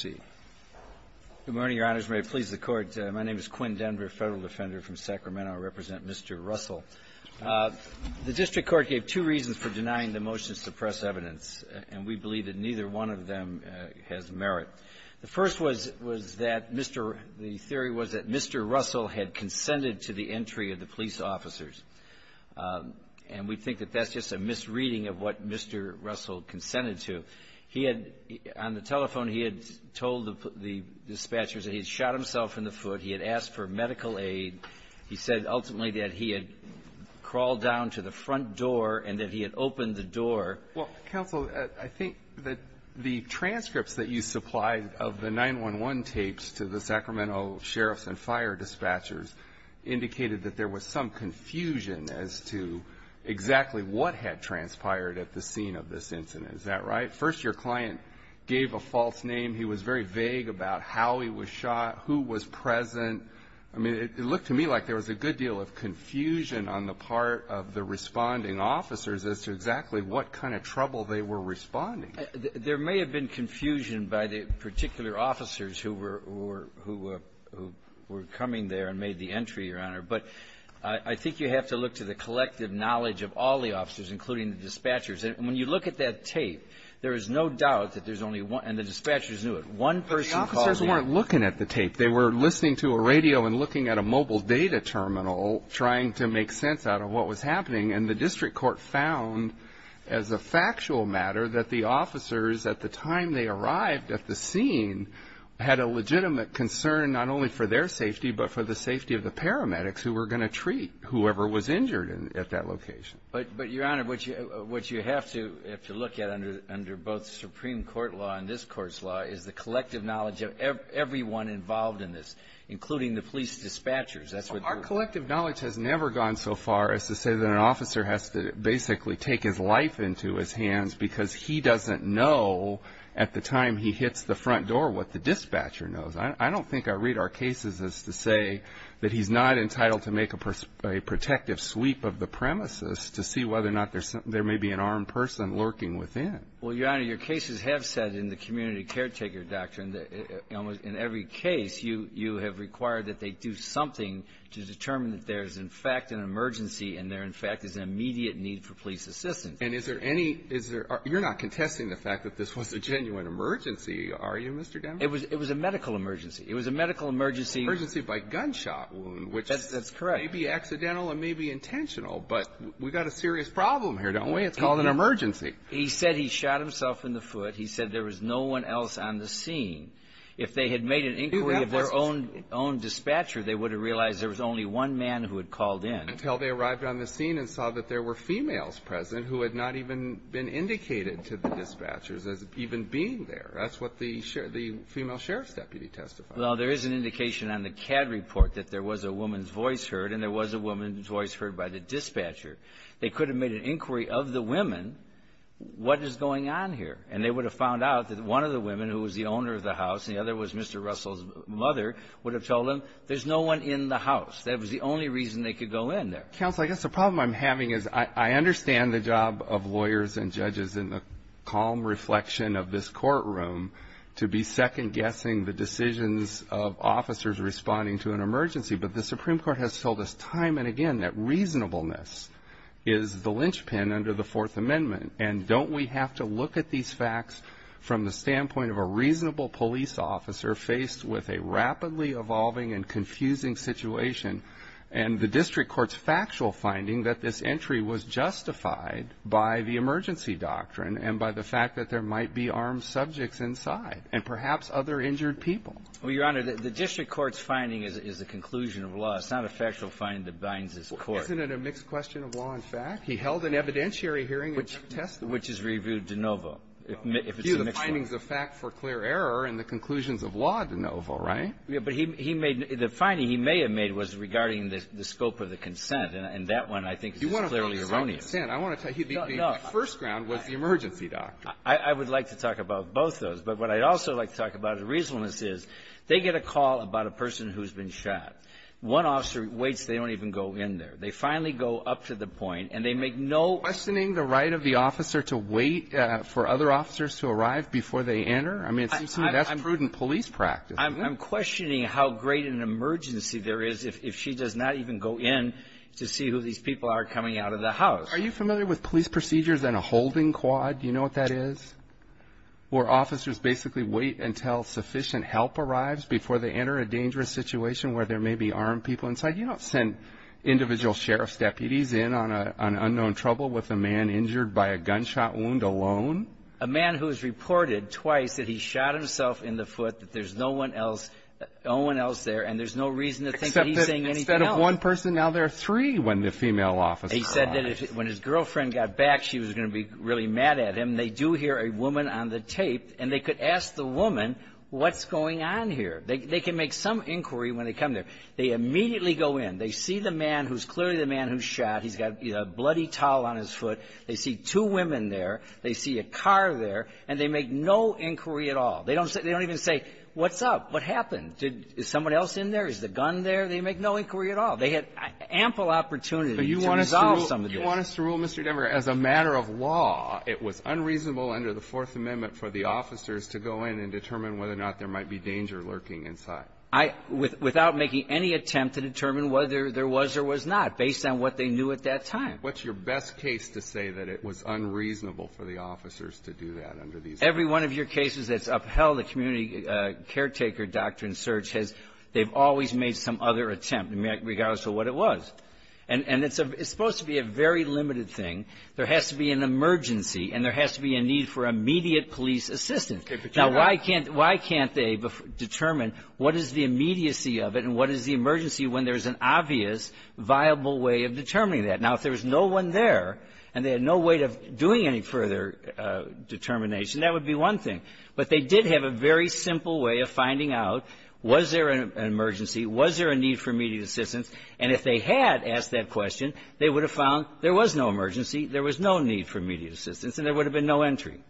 Good morning, Your Honors. May it please the Court, my name is Quinn Denver, Federal Defender from Sacramento. I represent Mr. Russell. The district court gave two reasons for denying the motion to suppress evidence, and we believe that neither one of them has merit. The first was that Mr. — the theory was that Mr. Russell had consented to the entry of the police officers. And we think that that's just a misreading of what Mr. Russell consented to. He had — on the telephone, he had told the dispatchers that he had shot himself in the foot, he had asked for medical aid. He said, ultimately, that he had crawled down to the front door and that he had opened the door. MR. DUNN Well, Counsel, I think that the transcripts that you supplied of the 911 tapes to the Sacramento sheriffs and fire dispatchers indicated that there was some confusion as to exactly what had transpired at the scene of this incident. Is that right? First, your client gave a false name. He was very vague about how he was shot, who was present. I mean, it looked to me like there was a good deal of confusion on the part of the responding officers as to exactly what kind of trouble they were responding. MR. DUNN There may have been confusion by the particular officers who were coming there and made the entry, Your Honor. But I think you have to look to the collective knowledge of all the officers, including the dispatchers. And when you look at that tape, there is no doubt that there's only one, and the dispatchers knew it, one person called the ambulance. CHIEF JUSTICE ROBERTS But the officers weren't looking at the tape. They were listening to a radio and looking at a mobile data terminal, trying to make sense out of what was happening. And the district court found, as a factual matter, that the officers, at the time they arrived at the scene, had a legitimate concern not only for their safety but for the safety of the paramedics who were going to treat whoever was injured at that location. MR. DUNN But, Your Honor, what you have to look at under both the Supreme Court law and this Court's law is the collective knowledge of everyone involved in this, including the police dispatchers. That's what the ---- CHIEF JUSTICE ROBERTS Our collective knowledge has never gone so far as to say that an officer has to basically take his life into his hands because he doesn't know at the time he hits the front door what the dispatcher knows. I don't think I read our cases as to say that he's not entitled to make a protective sweep of the premises to see whether or not there may be an armed person lurking within. MR. DUNN Well, Your Honor, your cases have said in the community caretaker doctrine that in every case you have required that they do something to determine that there is, in fact, an emergency and there, in fact, is an immediate need for police assistance. CHIEF JUSTICE ROBERTS And is there any ---- you're not contesting the fact that this was a genuine emergency, are you, Mr. Dunn? MR. DUNN It was a medical emergency. It was a medical emergency. CHIEF JUSTICE ROBERTS Emergency by gunshot wound. MR. DUNN That's correct. CHIEF JUSTICE ROBERTS Which may be accidental and may be intentional, but we've got a serious problem here, don't we? It's called an emergency. MR. DUNN He said he shot himself in the foot. He said there was no one else on the scene. If they had made an inquiry of their own dispatcher, they would have realized there was only one man who had called in. CHIEF JUSTICE ROBERTS Until they arrived on the scene and saw that there were females present who had not even been indicated to the dispatchers as even being there. That's what the female sheriff's deputy testified. MR. DUNN Well, there is an indication on the CAD report that there was a woman's voice heard and there was a woman's voice heard by the dispatcher. They could have made an inquiry of the women, what is going on here, and they would have found out that one of the women, who was the owner of the house and the other was Mr. Russell's mother, would have told them there's no one in the house. That was the only reason they could go in there. CHIEF JUSTICE ROBERTS Counsel, I guess the problem I'm having is I understand the job of lawyers and judges in the calm reflection of this courtroom to be second-guessing the decisions of officers responding to an emergency. But the Supreme Court has told us time and again that reasonableness is the linchpin under the Fourth Amendment. And don't we have to look at these facts from the standpoint of a reasonable police officer faced with a rapidly evolving and confusing situation and the district court's factual finding that this entry was justified by the emergency doctrine and by the fact that there might be armed subjects inside and perhaps other injured people? MR. DUNN Well, Your Honor, the district court's finding is a conclusion of law. It's not a factual finding that binds this court. CHIEF JUSTICE ROBERTS Isn't it a mixed question of law and fact? He held an evidentiary hearing and testified. MR. DUNN Which is reviewed de novo. If it's a mixed one. CHIEF JUSTICE ROBERTS Review the findings of fact for clear error and the conclusions of law de novo, right? MR. DUNN Yeah, but he made the finding he may have made was regarding the scope of the consent. And that one I think is clearly erroneous. CHIEF JUSTICE ROBERTS You want to find his own consent. I want to tell you the first ground was the emergency doctrine. MR. DUNN I would like to talk about both those. But what I'd also like to talk about is reasonableness is they get a call about a person who's been shot. One officer waits. They don't even go in there. They finally go up to the point and they make no questioning. CHIEF JUSTICE ROBERTS Are you saying the right of the officer to wait for other officers to arrive before they enter? I mean, it seems to me that's prudent police practice. MR. DUNN I'm questioning how great an emergency there is if she does not even go in to see who these people are coming out of the house. CHIEF JUSTICE ROBERTS Are you familiar with police procedures and a holding quad? Do you know what that is? Where officers basically wait until sufficient help arrives before they enter a dangerous situation where there may be armed people inside. You don't send individual sheriff's deputies in on unknown trouble with a man injured by a gunshot wound alone. MR. DUNN A man who has reported twice that he shot himself in the foot, that there's no one else there, and there's no reason to think that he's saying anything else. CHIEF JUSTICE ROBERTS Except that instead of one person, now there are three when the female officer arrives. MR. DUNN He said that when his girlfriend got back, she was going to be really mad at him. They do hear a woman on the tape, and they could ask the woman, what's going on here? They can make some inquiry when they come there. They immediately go in. They see the man who's clearly the man who shot. He's got a bloody towel on his foot. They see two women there. They see a car there, and they make no inquiry at all. They don't say they don't even say, what's up? What happened? Is someone else in there? Is the gun there? They make no inquiry at all. They had ample opportunity to resolve some of this. CHIEF JUSTICE ALITO You want us to rule, Mr. Denver, as a matter of law, it was unreasonable under the Fourth Amendment for the officers to go in and determine whether or not there might be danger lurking inside. Without making any attempt to determine whether there was or was not, based on what they knew at that time. MR. DENVER What's your best case to say that it was unreasonable for the officers to do that under these laws? CHIEF JUSTICE ALITO Every one of your cases that's upheld the community caretaker doctrine search has they've always made some other attempt, regardless of what it was. And it's supposed to be a very limited thing. There has to be an emergency, and there has to be a need for immediate police assistance. Now, why can't they determine what is the immediacy of it and what is the emergency when there's an obvious, viable way of determining that? Now, if there was no one there and they had no way of doing any further determination, that would be one thing. But they did have a very simple way of finding out, was there an emergency? Was there a need for immediate assistance? And if they had asked that question, they would have found there was no emergency, there was no need for immediate assistance, and there would have been no entry.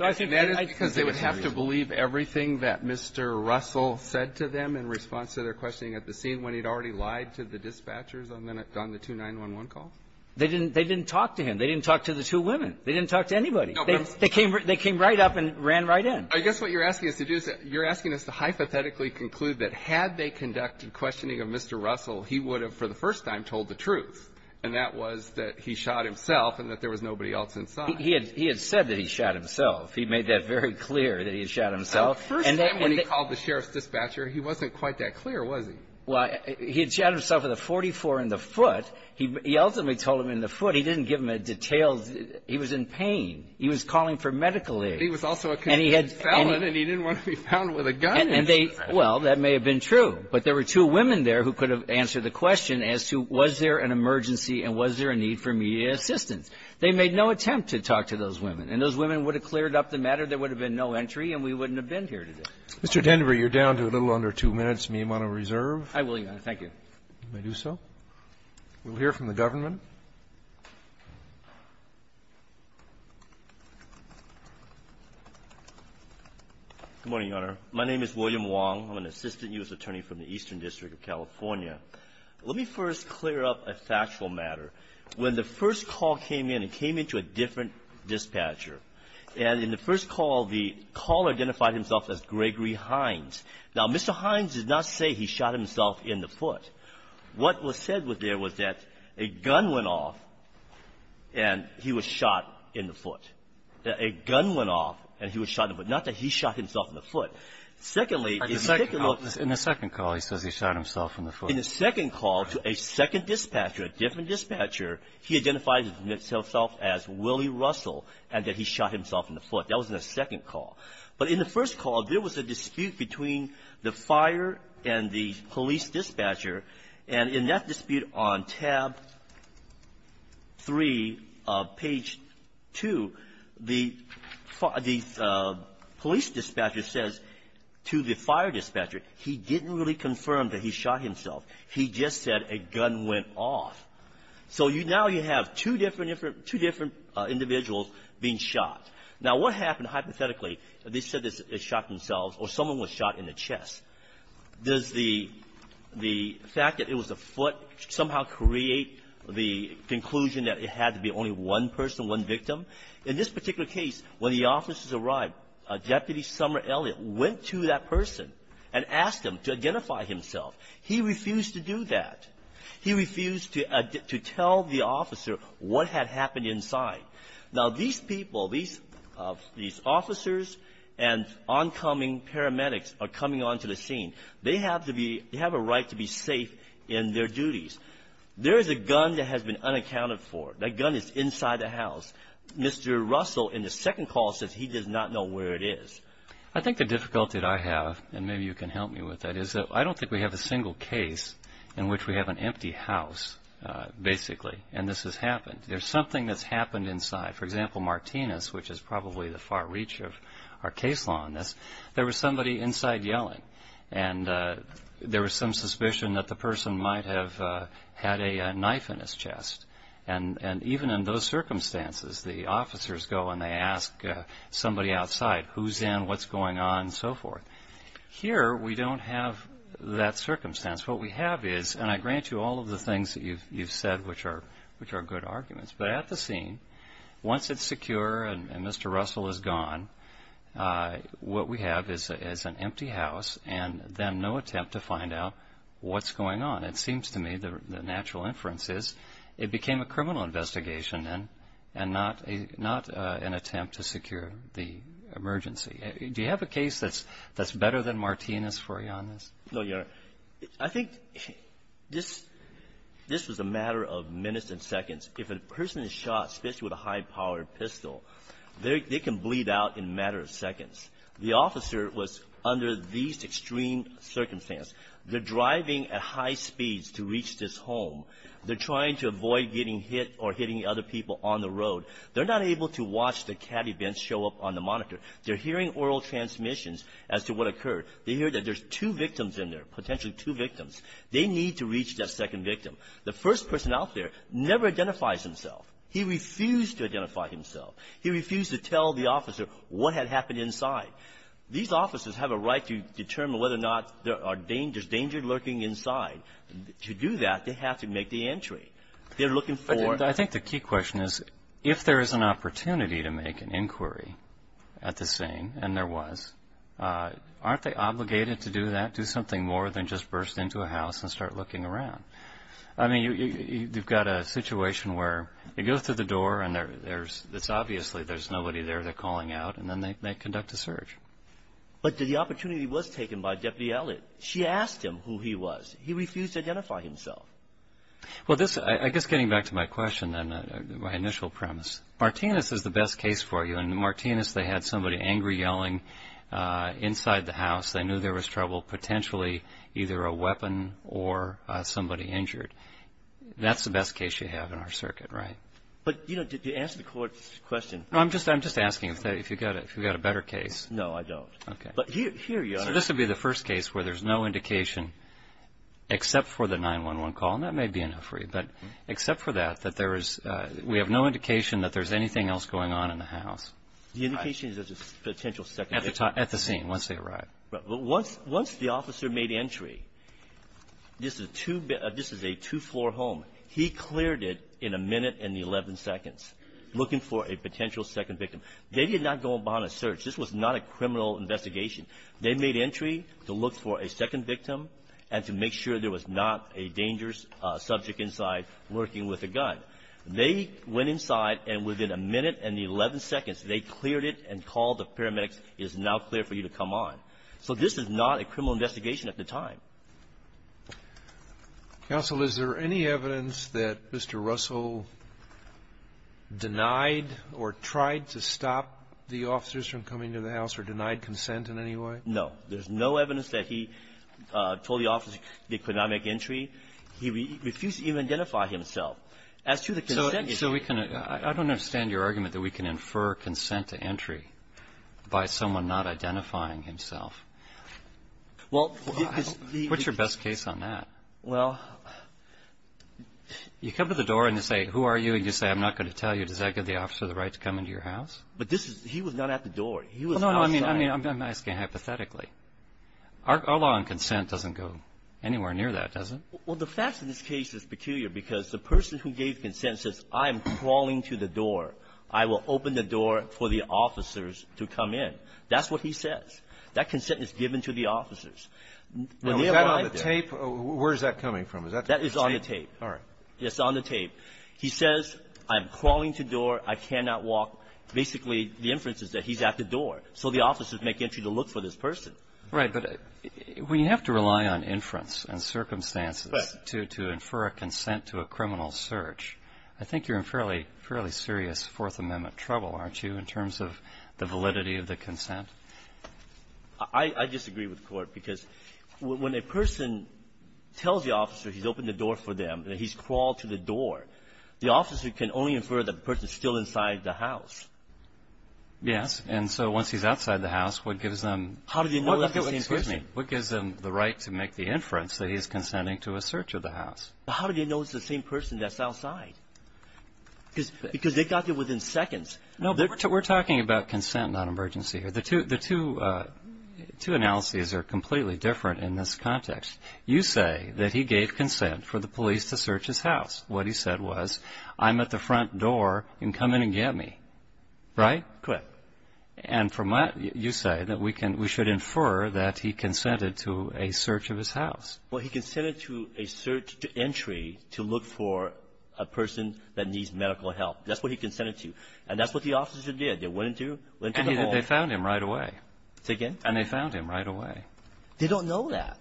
And that is because they would have to believe everything that Mr. Russell said to them in response to their questioning at the scene when he'd already lied to the dispatchers on the 2911 calls? They didn't talk to him. They didn't talk to the two women. They didn't talk to anybody. They came right up and ran right in. I guess what you're asking us to do is you're asking us to hypothetically conclude that had they conducted questioning of Mr. Russell, he would have for the first time told the truth, and that was that he shot himself and that there was nobody else inside. He had said that he shot himself. He made that very clear that he had shot himself. The first time when he called the sheriff's dispatcher, he wasn't quite that clear, was he? Well, he had shot himself with a .44 in the foot. He ultimately told him in the foot. He didn't give him a detailed he was in pain. He was calling for medical aid. But he was also a convicted felon, and he didn't want to be found with a gun. And they, well, that may have been true. But there were two women there who could have answered the question as to was there an emergency and was there a need for immediate assistance? They made no attempt to talk to those women. And those women would have cleared up the matter. There would have been no entry, and we wouldn't have been here today. Mr. Denver, you're down to a little under two minutes. May I am on a reserve? I will, Your Honor. Thank you. May I do so? We'll hear from the government. Good morning, Your Honor. My name is William Wong. I'm an assistant U.S. attorney from the Eastern District of California. Let me first clear up a factual matter. When the first call came in, it came in to a different dispatcher. And in the first call, the caller identified himself as Gregory Hines. Now, Mr. Hines did not say he shot himself in the foot. What was said there was that a gun went off, and he was shot in the foot. A gun went off, and he was shot in the foot. Not that he shot himself in the foot. Secondly, in particular — In the second call, he says he shot himself in the foot. In the second call to a second dispatcher, a different dispatcher, he identified himself as Willie Russell, and that he shot himself in the foot. That was in the second call. But in the first call, there was a dispute between the fire and the police dispatcher. And in that dispute on tab 3 of page 2, the police dispatcher says to the fire dispatcher he didn't really confirm that he shot himself. He just said a gun went off. So now you have two different individuals being shot. Now, what happened hypothetically? They said they shot themselves or someone was shot in the chest. Does the fact that it was a foot somehow create the conclusion that it had to be only one person, one victim? In this particular case, when the officers arrived, Deputy Summer Elliott went to that person and asked him to identify himself. He refused to do that. He refused to tell the officer what had happened inside. Now, these people, these officers and oncoming paramedics are coming onto the scene. They have to be — they have a right to be safe in their duties. There is a gun that has been unaccounted for. That gun is inside the house. Mr. Russell, in the second call, says he does not know where it is. I think the difficulty that I have, and maybe you can help me with that, is that I don't think we have a single case in which we have an empty house, basically, and this has happened. There's something that's happened inside. For example, Martinez, which is probably the far reach of our case law on this, there was somebody inside yelling. And there was some suspicion that the person might have had a knife in his chest. And even in those circumstances, the officers go and they ask somebody outside, who's in, what's going on, and so forth. Here, we don't have that circumstance. What we have is, and I grant you all of the things that you've said, which are good arguments, but at the scene, once it's secure and Mr. Russell is gone, what we have is an empty house and then no attempt to find out what's going on. It seems to me the natural inference is it became a criminal investigation then and not an attempt to secure the emergency. Do you have a case that's better than Martinez for you on this? No, Your Honor. I think this was a matter of minutes and seconds. If a person is shot, especially with a high-powered pistol, they can bleed out in a matter of seconds. The officer was under these extreme circumstances. They're driving at high speeds to reach this home. They're trying to avoid getting hit or hitting other people on the road. They're not able to watch the cat events show up on the monitor. They're hearing oral transmissions as to what occurred. They hear that there's two victims in there, potentially two victims. They need to reach that second victim. The first person out there never identifies himself. He refused to identify himself. He refused to tell the officer what had happened inside. These officers have a right to determine whether or not there's danger lurking inside. To do that, they have to make the entry. They're looking for ---- I think the key question is, if there is an opportunity to make an inquiry at the scene, and there was, aren't they obligated to do that, do something more than just burst into a house and start looking around? I mean, you've got a situation where it goes through the door and there's obviously there's nobody there. They're calling out, and then they conduct a search. But the opportunity was taken by Deputy Elliott. She asked him who he was. He refused to identify himself. Well, this, I guess getting back to my question then, my initial premise, Martinez is the best case for you. In Martinez, they had somebody angry yelling inside the house. They knew there was trouble, potentially either a weapon or somebody injured. That's the best case you have in our circuit, right? But, you know, to answer the Court's question ---- I'm just asking if you've got a better case. No, I don't. Okay. Well, here you are. So this would be the first case where there's no indication except for the 911 call, and that may be enough for you, but except for that, that there is, we have no indication that there's anything else going on in the house. The indication is there's a potential second victim. At the scene, once they arrive. Once the officer made entry, this is a two-floor home. He cleared it in a minute and 11 seconds looking for a potential second victim. They did not go on a search. This was not a criminal investigation. They made entry to look for a second victim and to make sure there was not a dangerous subject inside working with a gun. They went inside, and within a minute and 11 seconds, they cleared it and called the paramedics, it is now clear for you to come on. So this is not a criminal investigation at the time. Counsel, is there any evidence that Mr. Russell denied or tried to stop the officers from coming to the house or denied consent in any way? No. There's no evidence that he told the officers he could not make entry. He refused to even identify himself. As to the consent issue ---- So we can ---- I don't understand your argument that we can infer consent to entry by someone not identifying himself. Well, because the ---- What's your best case on that? Well, you come to the door and you say, who are you? And you say, I'm not going to tell you. Does that give the officer the right to come into your house? But this is ---- he was not at the door. He was outside. No, no. I mean, I'm asking hypothetically. Our law on consent doesn't go anywhere near that, does it? Well, the fact of this case is peculiar because the person who gave consent says, I am crawling to the door. I will open the door for the officers to come in. That's what he says. That consent is given to the officers. Now, is that on the tape? Where is that coming from? Is that on the tape? That is on the tape. All right. It's on the tape. He says, I'm crawling to the door. I cannot walk. Basically, the inference is that he's at the door, so the officers make entry to look for this person. Right. But we have to rely on inference and circumstances to infer a consent to a criminal search. I think you're in fairly serious Fourth Amendment trouble, aren't you, in terms of the validity of the consent? I disagree with Court because when a person tells the officer he's opened the door for them, that he's crawled to the door, the officer can only infer that the person is still inside the house. Yes. And so once he's outside the house, what gives them the right to make the inference that he's consenting to a search of the house? How do they know it's the same person that's outside? Because they got there within seconds. No. We're talking about consent, not emergency. The two analyses are completely different in this context. You say that he gave consent for the police to search his house. What he said was, I'm at the front door. You can come in and get me. Right? Correct. And you say that we should infer that he consented to a search of his house. Well, he consented to a search to entry to look for a person that needs medical That's what he consented to. And that's what the officers did. They went into the hall. And they found him right away. And they found him right away. They don't know that.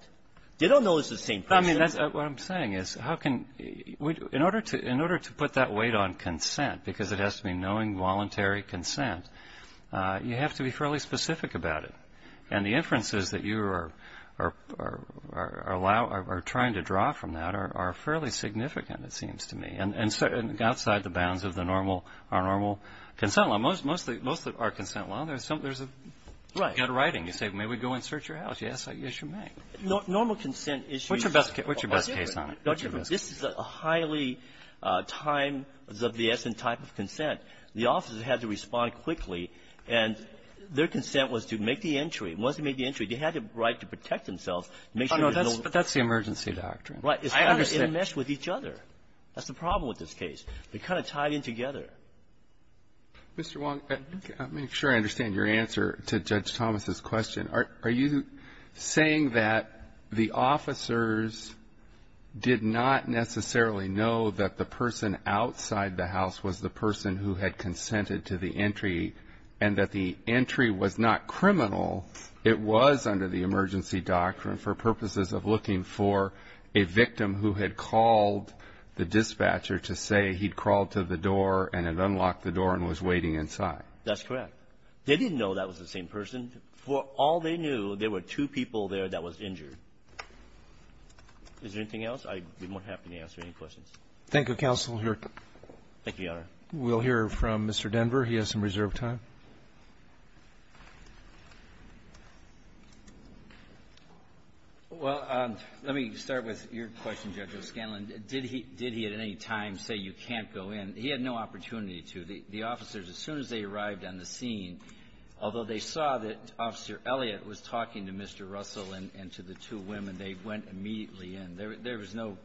They don't know it's the same person. What I'm saying is, in order to put that weight on consent, because it has to be knowing voluntary consent, you have to be fairly specific about it. And the inferences that you are trying to draw from that are fairly significant, it seems to me. And outside the bounds of the normal, our normal consent law, most of our consent law, there's a good writing. You say, may we go and search your house? Yes, you may. Normal consent issues What's your best case on it? This is a highly time-of-the-essent type of consent. The officers had to respond quickly. And their consent was to make the entry. Once they made the entry, they had the right to protect themselves. But that's the emergency doctrine. I understand. It meshed with each other. That's the problem with this case. They kind of tied in together. Mr. Wong, I'm not sure I understand your answer to Judge Thomas' question. Are you saying that the officers did not necessarily know that the person outside the house was the person who had consented to the entry and that the entry was not criminal? It was under the emergency doctrine for purposes of looking for a victim who had called the dispatcher to say he'd crawled to the door and had unlocked the door and was waiting inside. That's correct. They didn't know that was the same person. For all they knew, there were two people there that was injured. Is there anything else? I would be more than happy to answer any questions. Thank you, Counsel. Thank you, Your Honor. We'll hear from Mr. Denver. He has some reserved time. Well, let me start with your question, Judge O'Scanlan. Did he at any time say you can't go in? He had no opportunity to. The officers, as soon as they arrived on the scene, although they saw that Officer Elliott was talking to Mr. Russell and to the two women, they went immediately in. There was no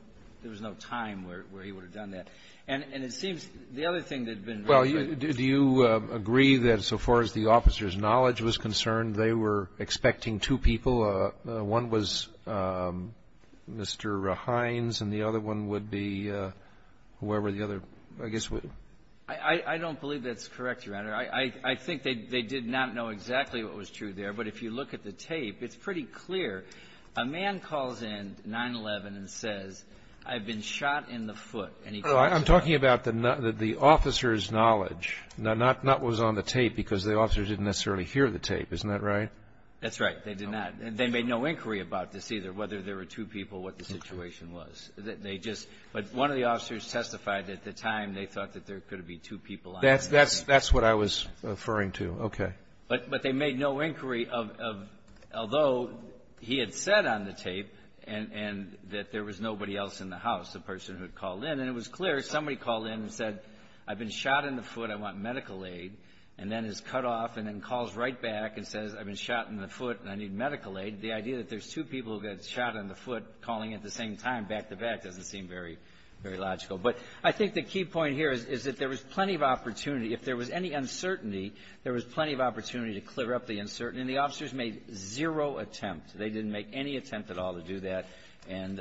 time where he would have done that. And it seems the other thing that had been raised was the other thing. Well, do you agree that so far as the officers' knowledge was concerned, they were expecting two people? One was Mr. Hines and the other one would be whoever the other, I guess, was? I don't believe that's correct, Your Honor. I think they did not know exactly what was true there. But if you look at the tape, it's pretty clear. A man calls in 9-11 and says, I've been shot in the foot. I'm talking about the officer's knowledge, not what was on the tape, because the officers didn't necessarily hear the tape. Isn't that right? That's right. They did not. They made no inquiry about this either, whether there were two people, what the situation was. They just – but one of the officers testified at the time they thought that there could have been two people on the tape. That's what I was referring to. Okay. But they made no inquiry of – although he had said on the tape and that there was nobody else in the house, the person who had called in. And it was clear. Somebody called in and said, I've been shot in the foot. I want medical aid. And then is cut off and then calls right back and says, I've been shot in the foot and I need medical aid. The idea that there's two people who got shot in the foot calling at the same time back-to-back doesn't seem very logical. But I think the key point here is that there was plenty of opportunity. If there was any uncertainty, there was plenty of opportunity to clear up the uncertainty. And the officers made zero attempt. They didn't make any attempt at all to do that. And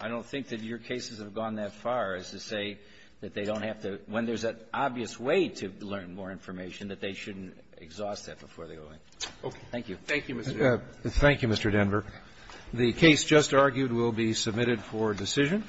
I don't think that your cases have gone that far as to say that they don't have to – when there's an obvious way to learn more information, that they shouldn't exhaust that before they go in. Thank you. Thank you, Mr. Denver. Thank you, Mr. Denver. The case just argued will be submitted for decision.